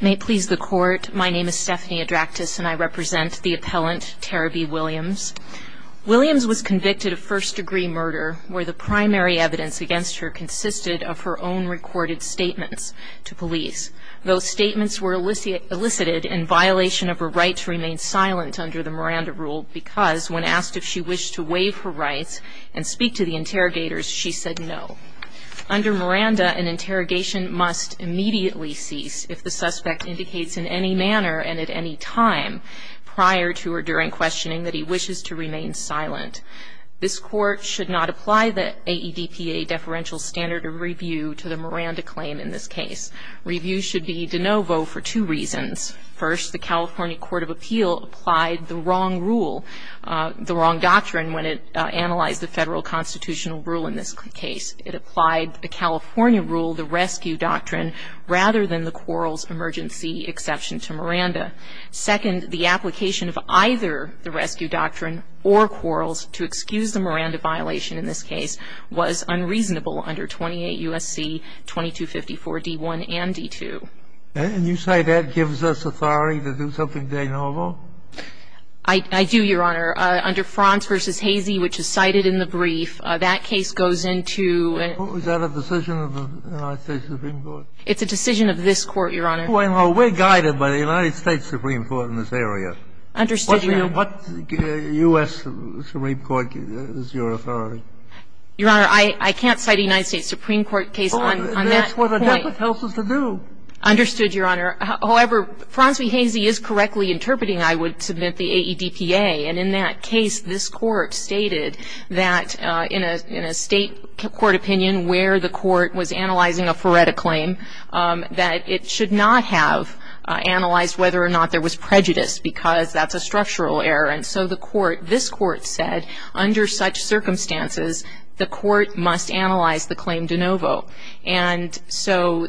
May it please the court, my name is Stephanie Adraktis and I represent the appellant Terebea Williams. Williams was convicted of first-degree murder where the primary evidence against her consisted of her own recorded statements to police. Those statements were elicited in violation of her right to remain silent under the Miranda rule because when asked if she wished to waive her rights and speak to the interrogators she said no. Under Miranda an interrogation must immediately cease if the suspect indicates in any manner and at any time prior to or during questioning that he wishes to remain silent. This court should not apply the AEDPA deferential standard of review to the Miranda claim in this case. Review should be de novo for two reasons. First the California Court of Appeal applied the wrong rule, the wrong doctrine when it analyzed the federal constitutional rule in this case. It applied the California rule, the rescue doctrine, rather than the Quarles emergency exception to Miranda. Second the application of either the rescue doctrine or Quarles to excuse the Miranda violation in this case was unreasonable under 28 U.S.C. 2254 D1 and D2. And you say that gives us authority to do something de novo? I do, Your Honor. Under Franz v. Hazy, which is cited in the brief, that case goes into and Is that a decision of the United States Supreme Court? It's a decision of this Court, Your Honor. Well, we're guided by the United States Supreme Court in this area. Understood, Your Honor. What U.S. Supreme Court is your authority? Your Honor, I can't cite a United States Supreme Court case on that point. That's what the debit tells us to do. Understood, Your Honor. However, Franz v. Hazy is correctly interpreting, I would submit the AEDPA. And in that case, this Court stated that in a state court opinion where the Court was analyzing a Fureta claim, that it should not have analyzed whether or not there was prejudice because that's a structural error. And so the Court, this Court said, under such circumstances, the Court must analyze the claim de novo. And so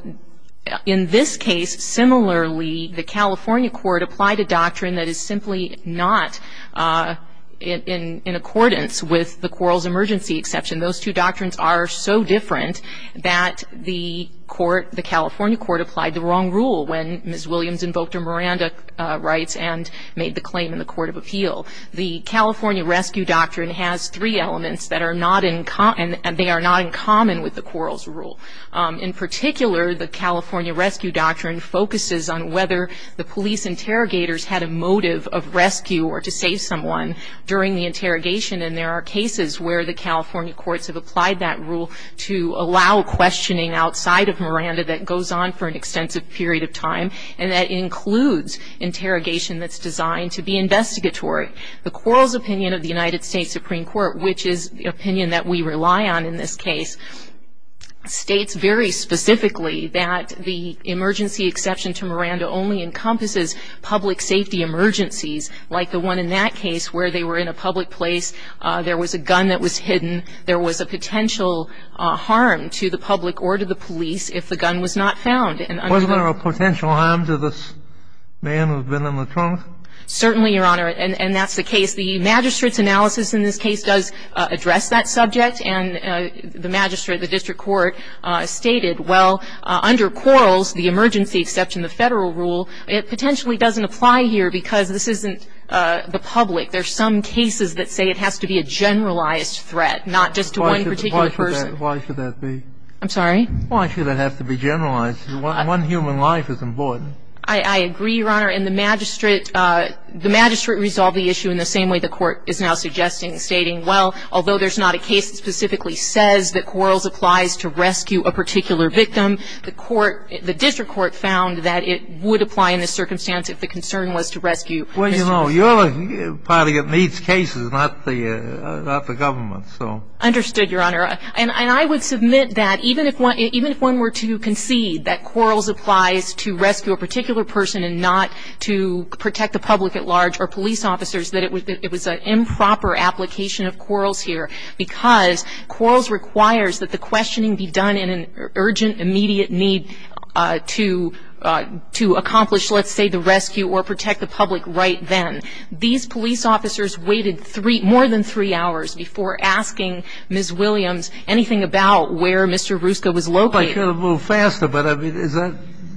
in this case, similarly, the California Court applied a doctrine that is simply not in accordance with the Quarrels Emergency Exception. Those two doctrines are so different that the Court, the California Court applied the wrong rule when Ms. Williams invoked her Miranda rights and made the claim in the Court of Appeal. The California Rescue Doctrine has three elements that are not in common, and they are not in common with the Quarrels Rule. In particular, the California Rescue Doctrine focuses on whether the police interrogators had a motive of rescue or to save someone during the interrogation. And there are cases where the California Courts have applied that rule to allow questioning outside of Miranda that goes on for an extensive period of time, and that includes interrogation that's designed to be investigatory. The Quarrels Opinion of the United States Supreme Court, which is the opinion that we rely on in this case, states very specifically that the emergency exception to Miranda only encompasses public safety emergencies, like the one in that case where they were in a public place, there was a gun that was hidden, there was a potential harm to the public or to the police if the gun was not found. Was there a potential harm to this man who had been in the trunk? Certainly, Your Honor, and that's the case. The magistrate's analysis in this case does address that subject, and the magistrate, the district court, stated, well, under Quarrels, the emergency exception, the Federal rule, it potentially doesn't apply here because this isn't the public. There's some cases that say it has to be a generalized threat, not just to one particular person. Why should that be? I'm sorry? Why should it have to be generalized? One human life is important. I agree, Your Honor, and the magistrate resolved the issue in the same way the court is now suggesting, stating, well, although there's not a case that specifically says that Quarrels applies to rescue a particular victim, the court, the district court, found that it would apply in this circumstance if the concern was to rescue Mr. Quarrels. Well, you know, you're the party that needs cases, not the government, so. Understood, Your Honor, and I would submit that even if one were to concede that Quarrels applies to rescue a particular person and not to protect the public at large or police officers, that it was an improper application of Quarrels here because Quarrels requires that the questioning be done in an urgent, immediate need to accomplish, let's say, the rescue or protect the public right then. These police officers waited three, more than three hours before asking Ms. Williams anything about where Mr. Rusca was located. I could have moved faster, but I mean, is that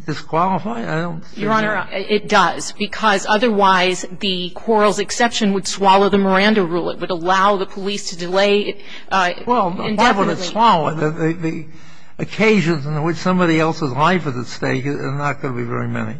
disqualifying? I don't think so. Your Honor, it does because otherwise the Quarrels exception would swallow the case. Well, why would it swallow? The occasions in which somebody else's life is at stake are not going to be very many.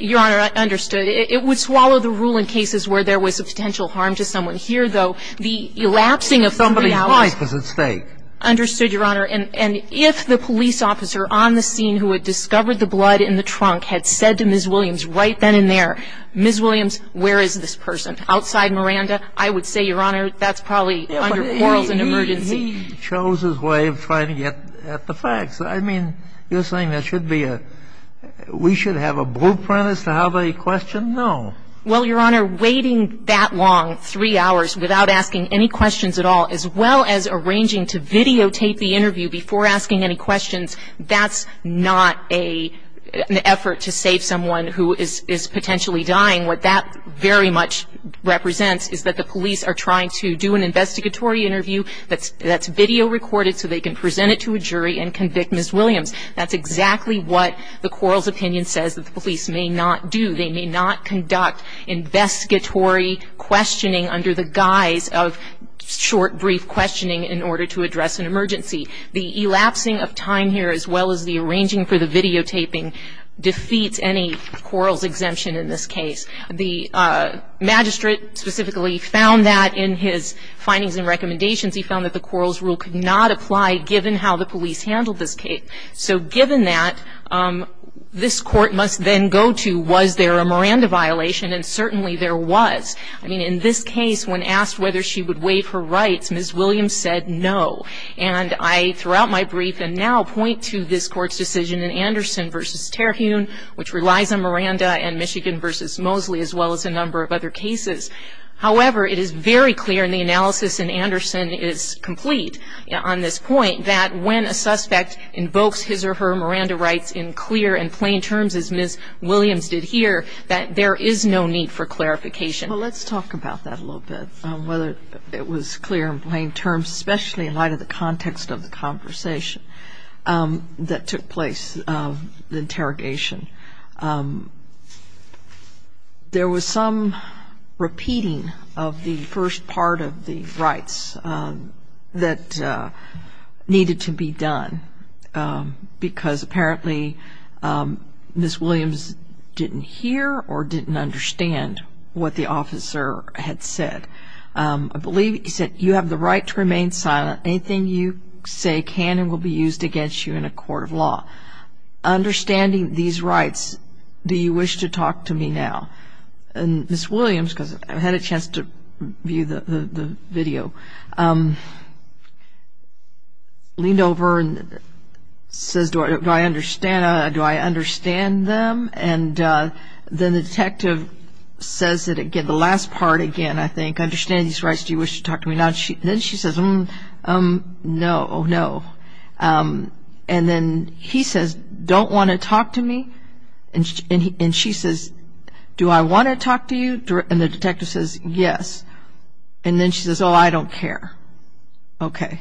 Your Honor, I understood. It would swallow the rule in cases where there was substantial harm to someone here, though the elapsing of three hours ---- Somebody's life is at stake. Understood, Your Honor. And if the police officer on the scene who had discovered the blood in the trunk had said to Ms. Williams right then and there, Ms. Williams, where is this person? Outside Miranda, I would say, Your Honor, that's probably under Quarrels and Emergency. He chose his way of trying to get at the facts. I mean, you're saying that should be a ---- we should have a blueprint as to how they question? No. Well, Your Honor, waiting that long, three hours, without asking any questions at all, as well as arranging to videotape the interview before asking any questions, that's not a ---- an effort to save someone who is potentially dying. What that very much represents is that the police are trying to do an investigatory interview that's video recorded so they can present it to a jury and convict Ms. Williams. That's exactly what the Quarrels' opinion says that the police may not do. They may not conduct investigatory questioning under the guise of short, brief questioning in order to address an emergency. The elapsing of time here, as well as the arranging for the videotaping, defeats any Quarrels' exemption in this case. The magistrate specifically found that in his findings and recommendations. He found that the Quarrels' rule could not apply, given how the police handled this case. So given that, this court must then go to, was there a Miranda violation? And certainly there was. I mean, in this case, when asked whether she would waive her rights, Ms. Williams said no. And I, throughout my brief and now, point to this court's decision in Anderson v. Terhune, which relies on Miranda, and Michigan v. Mosley, as well as a number of other cases. However, it is very clear, and the analysis in Anderson is complete on this point, that when a suspect invokes his or her Miranda rights in clear and plain terms, as Ms. Williams did here, that there is no need for clarification. Well, let's talk about that a little bit, whether it was clear and plain terms, especially in light of the context of the conversation that took place, the interrogation. There was some repeating of the first part of the rights that needed to be done, because apparently Ms. Williams didn't hear or didn't understand what the officer had said. I believe he said, you have the right to remain silent. Anything you say can and will be used against you in a court of law. Understanding these rights, do you wish to talk to me now? And Ms. Williams, because I had a chance to view the video, leaned over and says, do I understand them? And then the detective says it again, the last part again, I think, understanding these rights, do you wish to talk to me now? Then she says, no, no. And then he says, don't want to talk to me? And she says, do I want to talk to you? And the detective says, yes. And then she says, oh, I don't care. OK.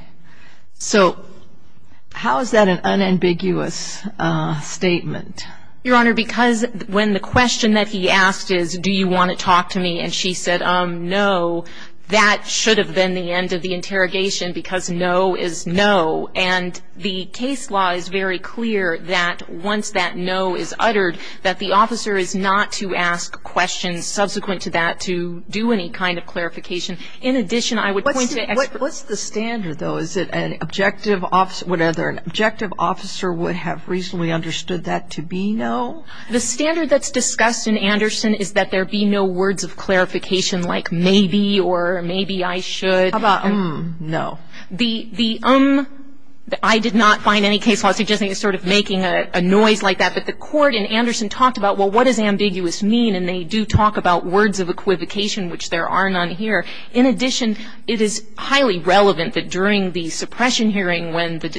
So how is that an unambiguous statement? Your Honor, because when the question that he asked is, do you want to talk to me, and she said, no, that should have been the end of the interrogation because no is no. And the case law is very clear that once that no is uttered, that the officer is not to ask questions subsequent to that to do any kind of clarification. In addition, I would point to experts. What's the standard, though? Is it an objective officer, whatever, an objective officer would have reasonably understood that to be no? The standard that's discussed in Anderson is that there be no words of clarification like maybe or maybe I should. How about um, no? The um that I did not find any case law suggesting is sort of making a noise like that. But the court in Anderson talked about, well, what does ambiguous mean? And they do talk about words of equivocation, which there are none here. In addition, it is highly relevant that during the suppression hearing when the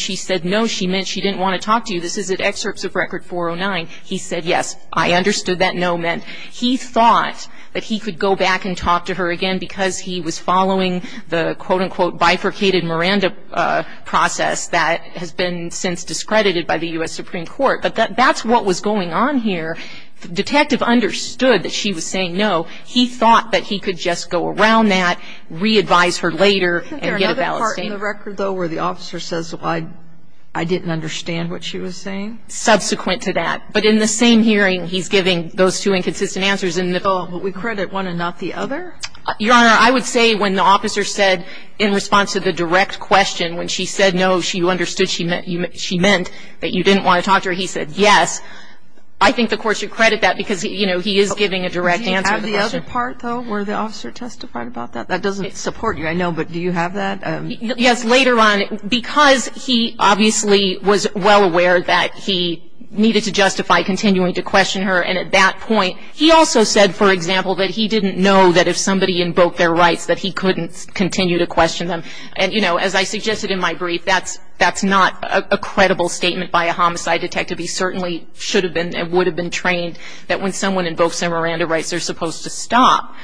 she said no, she meant she didn't want to talk to you. This is at excerpts of record 409. He said, yes, I understood that no meant. He thought that he could go back and talk to her again because he was following the quote, unquote, bifurcated Miranda process that has been since discredited by the U.S. Supreme Court. But that's what was going on here. The detective understood that she was saying no. He thought that he could just go around that, re-advise her later, and get a ballot stamp. Do you have a part in the record, though, where the officer says, well, I didn't understand what she was saying? Subsequent to that. But in the same hearing, he's giving those two inconsistent answers in the middle. But we credit one and not the other? Your Honor, I would say when the officer said in response to the direct question when she said no, she understood she meant that you didn't want to talk to her, he said, yes. I think the court should credit that because, you know, he is giving a direct answer. Does he have the other part, though, where the officer testified about that? That doesn't support you, I know, but do you have that? Yes, later on, because he obviously was well aware that he needed to justify continuing to question her, and at that point, he also said, for example, that he didn't know that if somebody invoked their rights that he couldn't continue to question them. And, you know, as I suggested in my brief, that's not a credible statement by a homicide detective. He certainly should have been and would have been trained that when someone invokes their Miranda rights, they're supposed to stop.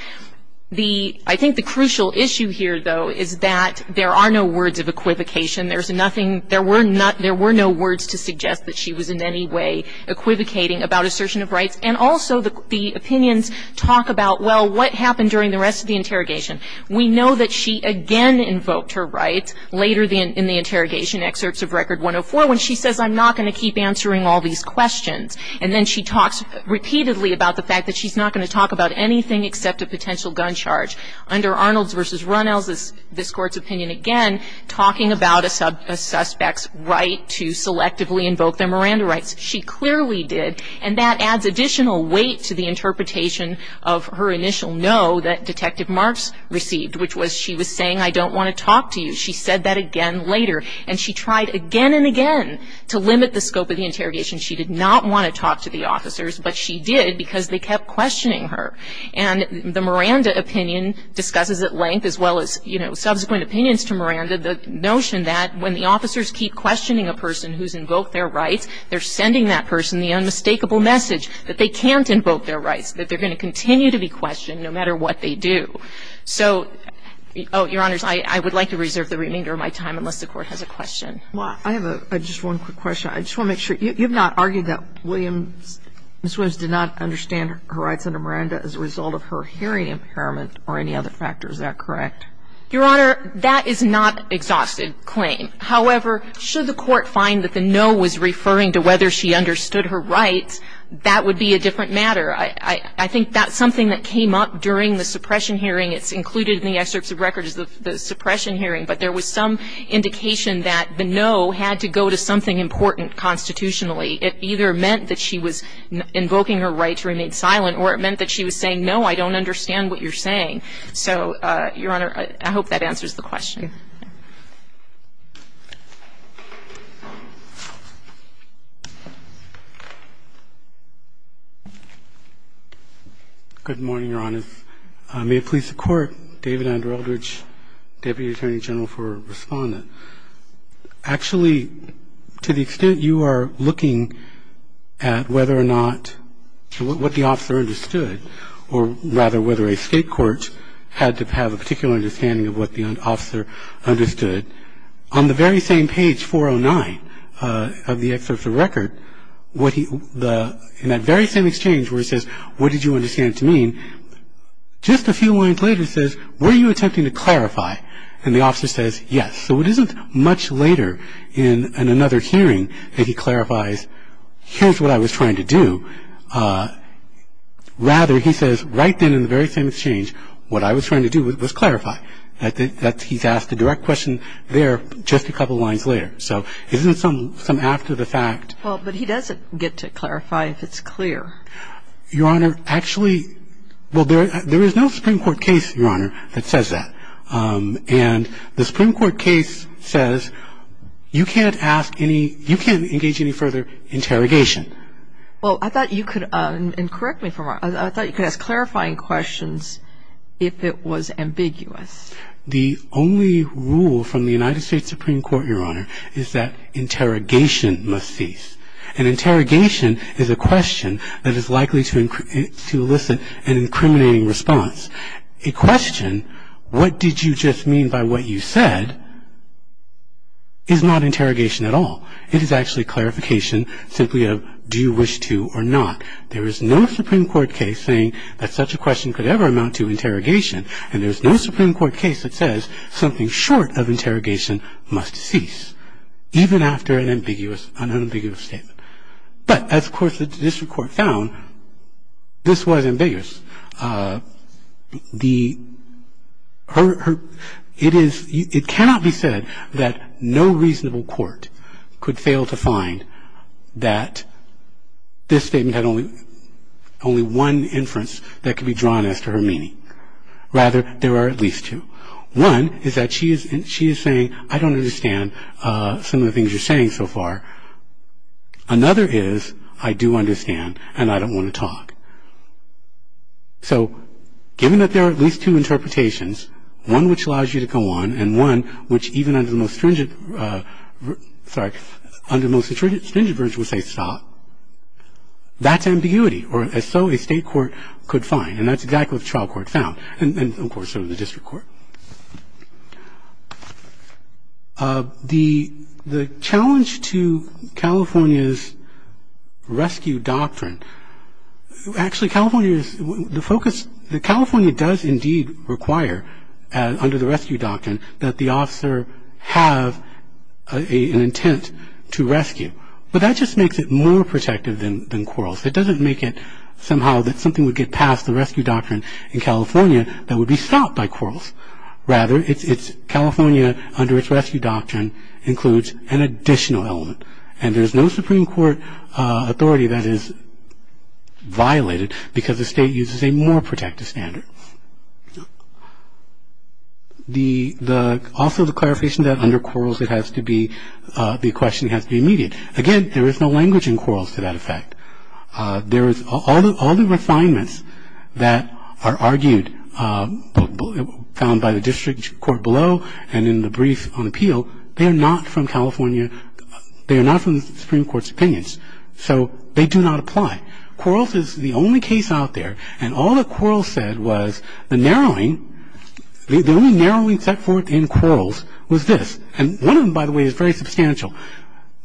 The, I think the crucial issue here, though, is that there are no words of equivocation. There's nothing, there were not, there were no words to suggest that she was in any way equivocating about assertion of rights. And also, the opinions talk about, well, what happened during the rest of the interrogation? We know that she again invoked her rights later in the interrogation, excerpts of Record 104, when she says, I'm not going to keep answering all these questions. And then she talks repeatedly about the fact that she's not going to talk about anything except a potential gun charge. Under Arnold's versus Runnell's, this court's opinion, again, talking about a suspect's right to selectively invoke their Miranda rights. She clearly did. And that adds additional weight to the interpretation of her initial no that Detective Marks received, which was she was saying, I don't want to talk to you. She said that again later. And she tried again and again to limit the scope of the interrogation. She did not want to talk to the officers, but she did because they kept questioning her. And the Miranda opinion discusses at length, as well as, you know, subsequent opinions to Miranda, the notion that when the officers keep questioning a person who's invoked their rights, they're sending that person the unmistakable message that they can't invoke their rights, that they're going to continue to be questioned no matter what they do. So, Your Honors, I would like to reserve the remainder of my time unless the Court has a question. Sotomayor, I have just one quick question. I just want to make sure, you've not argued that Williams, Ms. Williams did not understand her rights under Miranda as a result of her hearing impairment or any other factor, is that correct? Your Honor, that is not an exhausted claim. However, should the Court find that the no was referring to whether she understood her rights, that would be a different matter. I think that's something that came up during the suppression hearing. It's included in the excerpts of records of the suppression hearing. But there was some indication that the no had to go to something important constitutionally. It either meant that she was invoking her right to remain silent or it meant that she was saying, no, I don't understand what you're saying. So, Your Honor, I hope that answers the question. Good morning, Your Honors. May it please the Court, David Andrew Eldridge, Deputy Attorney General for Respondent. Actually, to the extent you are looking at whether or not what the officer understood or rather whether a state court had to have a particular understanding of what the officer understood, on the very same page 409 of the excerpt of record, in that very same exchange where it says, what did you understand to mean, just a few lines later it says, were you attempting to clarify? And the officer says, yes. So it isn't much later in another hearing that he clarifies, here's what I was trying to do. Rather, he says, right then in the very same exchange, what I was trying to do was clarify. He's asked a direct question there just a couple lines later. So isn't it some after the fact? Well, but he doesn't get to clarify if it's clear. Your Honor, actually, well, there is no Supreme Court case, Your Honor, that says that. And the Supreme Court case says you can't ask any, you can't engage any further interrogation. Well, I thought you could, and correct me if I'm wrong, I thought you could ask clarifying questions if it was ambiguous. The only rule from the United States Supreme Court, Your Honor, is that interrogation must cease. An interrogation is a question that is likely to elicit an incriminating response. A question, what did you just mean by what you said, is not interrogation at all. It is actually clarification simply of, do you wish to or not? There is no Supreme Court case saying that such a question could ever amount to interrogation. And there's no Supreme Court case that says something short of interrogation must cease, even after an ambiguous, unambiguous statement. But as, of course, the district court found, this was ambiguous. It cannot be said that no reasonable court could fail to find that this statement had only one inference that could be drawn as to her meaning. Rather, there are at least two. One is that she is saying, I don't understand some of the things you're saying so far. Another is, I do understand, and I don't want to talk. So given that there are at least two interpretations, one which allows you to go on, and one which even under the most stringent, sorry, under the most stringent version would say stop, that's ambiguity, or as so a state court could find. And that's exactly what the trial court found. And of course, so did the district court. The challenge to California's rescue doctrine, actually California is, the focus, California does indeed require under the rescue doctrine that the officer have an intent to rescue. But that just makes it more protective than quarrels. It doesn't make it somehow that something would get past the rescue doctrine in California that would be stopped by quarrels. Rather, it's California under its rescue doctrine includes an additional element. And there's no Supreme Court authority that is violated because the state uses a more protective standard. Also the clarification that under quarrels it has to be, the question has to be immediate. Again, there is no language in quarrels to that effect. There is, all the refinements that are argued, found by the district court below and in the brief on appeal, they are not from California, they are not from the Supreme Court's opinions. So they do not apply. Quarrels is the only case out there. And all the quarrels said was the narrowing, the only narrowing set forth in quarrels was this. And one of them, by the way, is very substantial.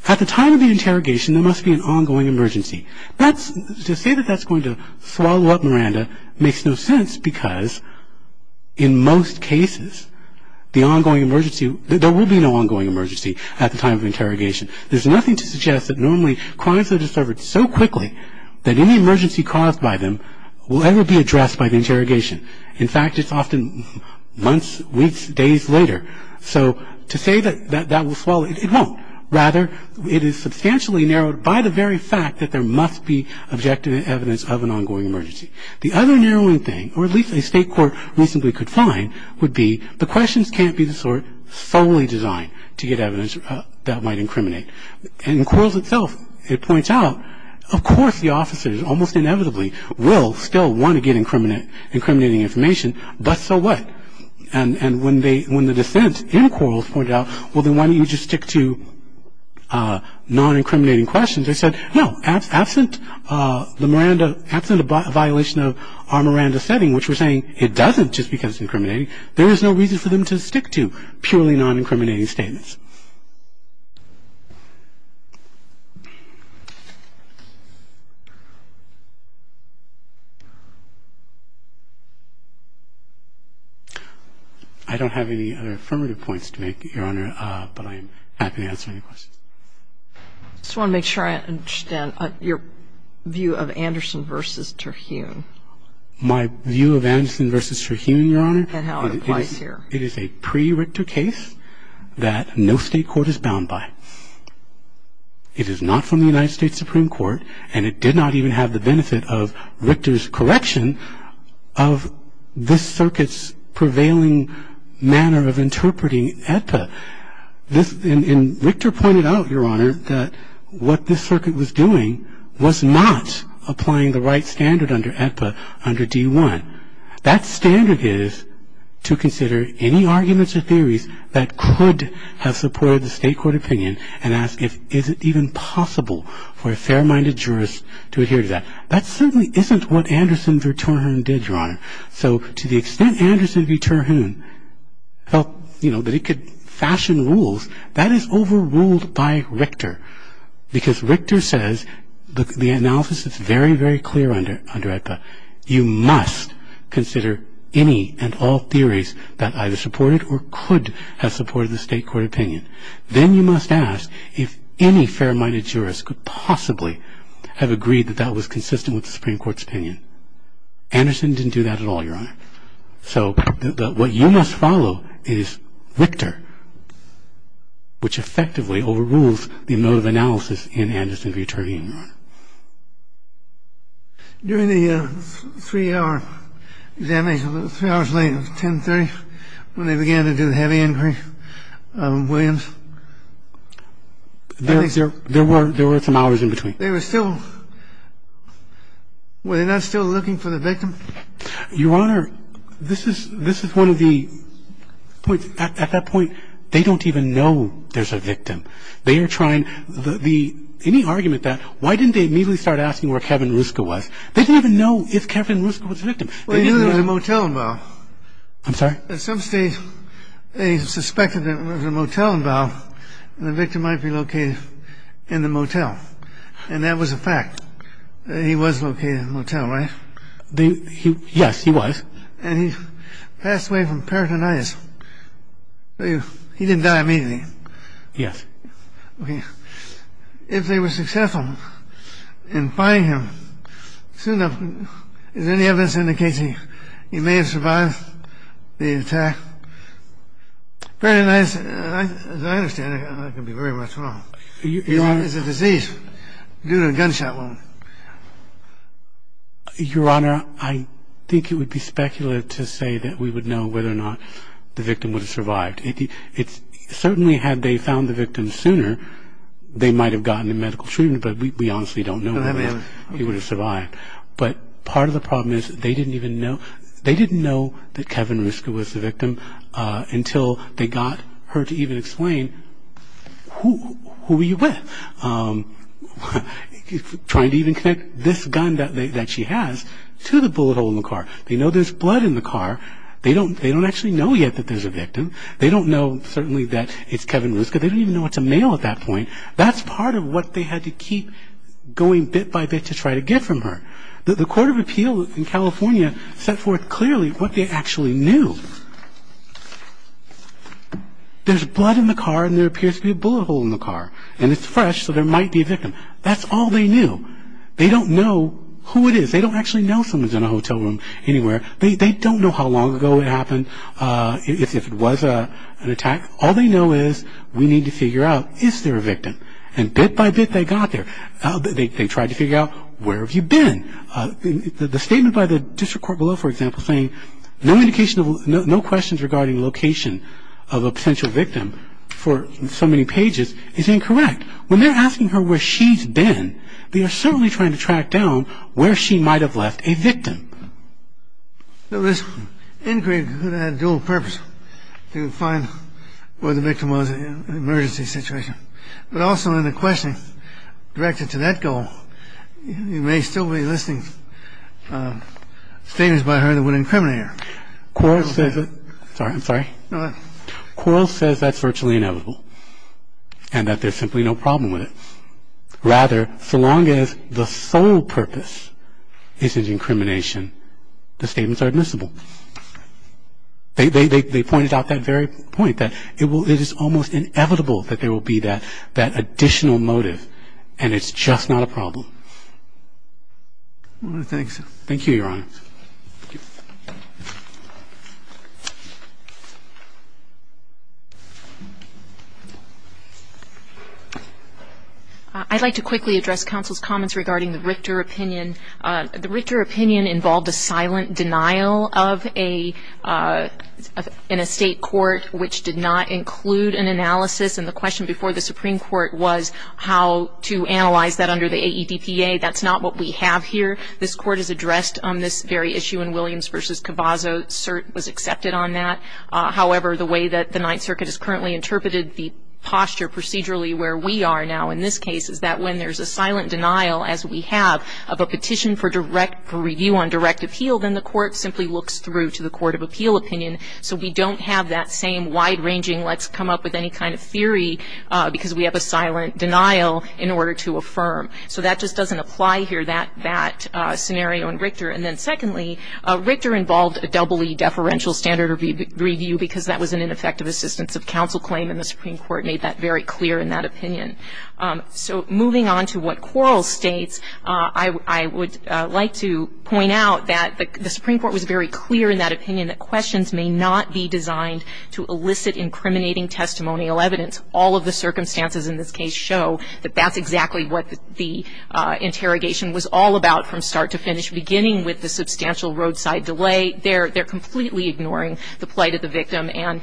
At the time of the interrogation, there must be an ongoing emergency. That's, to say that that's going to swallow up Miranda makes no sense because in most cases, the ongoing emergency, there will be no ongoing emergency at the time of interrogation. There's nothing to suggest that normally crimes are discovered so quickly that any emergency caused by them will ever be addressed by the interrogation. In fact, it's often months, weeks, days later. So to say that that will swallow, it won't. Rather, it is substantially narrowed by the very fact that there must be objective evidence of an ongoing emergency. The other narrowing thing, or at least a state court recently could find, would be the questions can't be the sort solely designed to get evidence that might incriminate. In quarrels itself, it points out, of course, the officers almost inevitably will still want to get incriminating information, but so what? And when the dissent in quarrels pointed out, well, then why don't you just stick to non-incriminating questions? They said, no, absent the Miranda, absent a violation of our Miranda setting, which we're saying it doesn't just because it's incriminating. There is no reason for them to stick to purely non-incriminating statements. I don't have any other affirmative points to make, Your Honor, but I'm happy to answer any questions. I just want to make sure I understand your view of Anderson v. Terhune. My view of Anderson v. Terhune, Your Honor, it is a pre-Richter case that no state court is bound by. It is not from the United States Supreme Court, and it did not even have the benefit of Richter's correction of this circuit's prevailing manner of interpreting AEDPA. And Richter pointed out, Your Honor, that what this circuit was doing was not applying the right standard under AEDPA under D1. That standard is to consider any arguments or theories that could have supported the state court opinion and ask if is it even possible for a fair-minded jurist to adhere to that. That certainly isn't what Anderson v. Terhune did, Your Honor. So to the extent Anderson v. Terhune felt that it could fashion rules, that is overruled by Richter because Richter says the analysis is very, very clear under AEDPA. You must consider any and all theories that either supported or could have supported the state court opinion. Then you must ask if any fair-minded jurist could possibly have agreed that that was consistent with the Supreme Court's opinion. Anderson didn't do that at all, Your Honor. So what you must follow is Richter, which effectively overrules the mode of analysis in Anderson v. Terhune, Your Honor. During the three-hour examination, three hours later, it was 10.30 when they began to do the heavy inquiry, Williams, I think... There were some hours in between. They were still... Were they not still looking for the victim? Your Honor, this is one of the points... At that point, they don't even know there's a victim. They are trying... Any argument that, why didn't they immediately start asking where Kevin Ruska was? They didn't even know if Kevin Ruska was a victim. Well, he was at a motel in Vowell. I'm sorry? At some stage, they suspected that it was a motel in Vowell, and the victim might be located in the motel. And that was a fact. He was located in a motel, right? Yes, he was. And he passed away from peritonitis. He didn't die immediately. Yes. Okay. If they were successful in finding him, soon enough, as any evidence indicates, he may have survived the attack. Peritonitis, as I understand it, I can be very much wrong. Your Honor... It's a disease due to a gunshot wound. Your Honor, I think it would be speculative to say that we would know whether or not the victim would have survived. Certainly, had they found the victim sooner, they might have gotten him medical treatment, but we honestly don't know whether he would have survived. But part of the problem is, they didn't even know... They didn't know that Kevin Ruska was the victim until they got her to even explain, who were you with? Trying to even connect this gun that she has to the bullet hole in the car. They know there's blood in the car. They don't actually know yet that there's a victim. They don't know, certainly, that it's Kevin Ruska. They don't even know it's a male at that point. That's part of what they had to keep going bit by bit to try to get from her. The Court of Appeal in California set forth clearly what they actually knew. There's blood in the car and there appears to be a bullet hole in the car. And it's fresh, so there might be a victim. That's all they knew. They don't know who it is. They don't actually know someone's in a hotel room anywhere. They don't know how long ago it happened, if it was an attack. All they know is, we need to figure out, is there a victim? And bit by bit, they got there. They tried to figure out, where have you been? The statement by the district court below, for example, saying, no questions regarding location of a potential victim for so many pages is incorrect. When they're asking her where she's been, they are certainly trying to track down where she might have left a victim. This inquiry could have had a dual purpose, to find where the victim was in an emergency situation. But also in the questioning directed to that goal, you may still be listing statements by her that would incriminate her. Quarles says that's virtually inevitable. And that there's simply no problem with it. Rather, so long as the sole purpose isn't incrimination, the statements are admissible. They pointed out that very point, that it is almost inevitable that there will be that additional motive, and it's just not a problem. Thanks. Thank you, Your Honor. I'd like to quickly address counsel's comments regarding the Richter opinion. The Richter opinion involved a silent denial of an estate court, which did not include an analysis. And the question before the Supreme Court was how to analyze that under the AEDPA. That's not what we have here. This court has addressed on this very issue in Williams versus Cavazzo. Cert was accepted on that. However, the way that the Ninth Circuit has currently interpreted the posture, where we are now in this case, is that when there's a silent denial, as we have, of a petition for review on direct appeal, then the court simply looks through to the court of appeal opinion. So we don't have that same wide-ranging, let's come up with any kind of theory, because we have a silent denial in order to affirm. So that just doesn't apply here, that scenario in Richter. And then secondly, Richter involved a EE deferential standard review, because that was an ineffective assistance of counsel claim. And the Supreme Court made that very clear in that opinion. So moving on to what Quarles states, I would like to point out that the Supreme Court was very clear in that opinion that questions may not be designed to elicit incriminating testimonial evidence. All of the circumstances in this case show that that's exactly what the interrogation was all about from start to finish, beginning with the substantial roadside delay. They're completely ignoring the plight of the victim and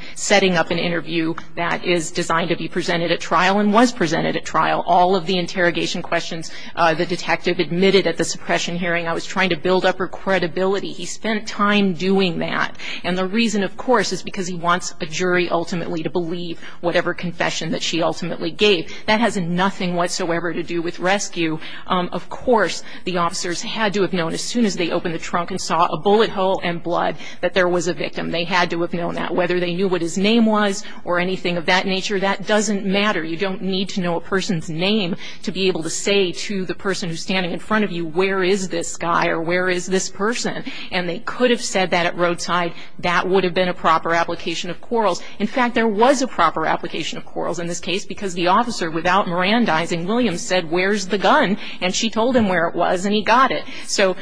is designed to be presented at trial and was presented at trial. All of the interrogation questions the detective admitted at the suppression hearing, I was trying to build up her credibility. He spent time doing that. And the reason, of course, is because he wants a jury ultimately to believe whatever confession that she ultimately gave. That has nothing whatsoever to do with rescue. Of course, the officers had to have known as soon as they opened the trunk and saw a bullet hole and blood that there was a victim. They had to have known that. Whether they knew what his name was or anything of that nature, that doesn't matter. You don't need to know a person's name to be able to say to the person who's standing in front of you, where is this guy or where is this person? And they could have said that at roadside. That would have been a proper application of Quarles. In fact, there was a proper application of Quarles in this case because the officer, without Mirandizing, Williams said, where's the gun? And she told him where it was and he got it. So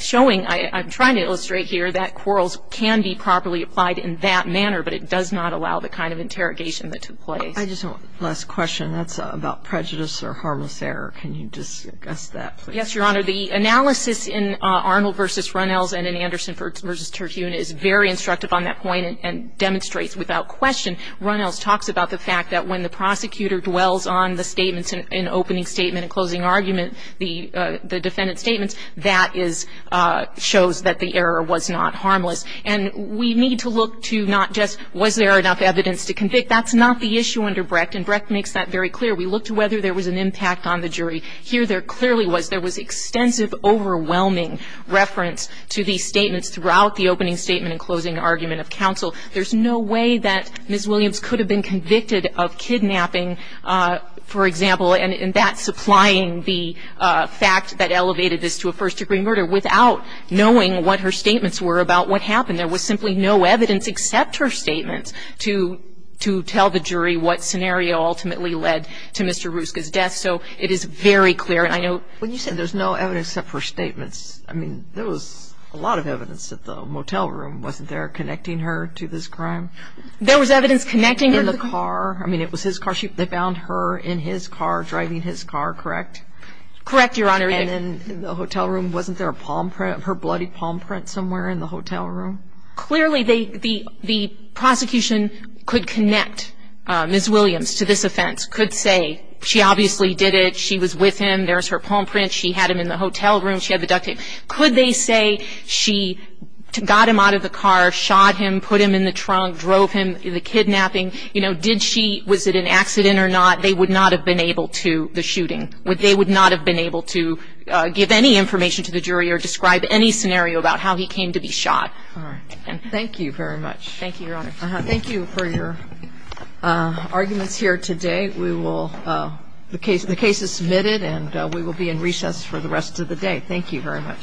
showing, I'm trying to illustrate here that Quarles can be properly applied in that manner, but it does not allow the kind of interrogation that took place. I just have one last question. That's about prejudice or harmless error. Can you discuss that, please? Yes, Your Honor. The analysis in Arnold v. Runnels and in Anderson v. Terhune is very instructive on that point and demonstrates without question, Runnels talks about the fact that when the prosecutor dwells on the statements in opening statement and closing argument, the defendant's statements, that shows that the error was not harmless. And we need to look to not just was there enough evidence to convict? That's not the issue under Brecht, and Brecht makes that very clear. We looked to whether there was an impact on the jury. Here there clearly was. There was extensive, overwhelming reference to these statements throughout the opening statement and closing argument of counsel. There's no way that Ms. Williams could have been convicted of kidnapping, for example, of a first-degree murder without knowing what her statements were about what happened. There was simply no evidence except her statements to tell the jury what scenario ultimately led to Mr. Ruska's death. So it is very clear. And I know when you say there's no evidence except for statements, I mean, there was a lot of evidence at the motel room. Wasn't there connecting her to this crime? There was evidence connecting her? In the car. I mean, it was his car. They found her in his car, driving his car, correct? Correct, Your Honor. And in the hotel room, wasn't there a palm print, her bloody palm print somewhere in the hotel room? Clearly, the prosecution could connect Ms. Williams to this offense, could say she obviously did it, she was with him, there was her palm print, she had him in the hotel room, she had the duct tape. Could they say she got him out of the car, shot him, put him in the trunk, drove him, the kidnapping, you know, did she, was it an accident or not, they would not have been able to, the shooting. They would not have been able to give any information to the jury or describe any scenario about how he came to be shot. All right. And thank you very much. Thank you, Your Honor. Thank you for your arguments here today. We will, the case is submitted and we will be in recess for the rest of the day. Thank you very much.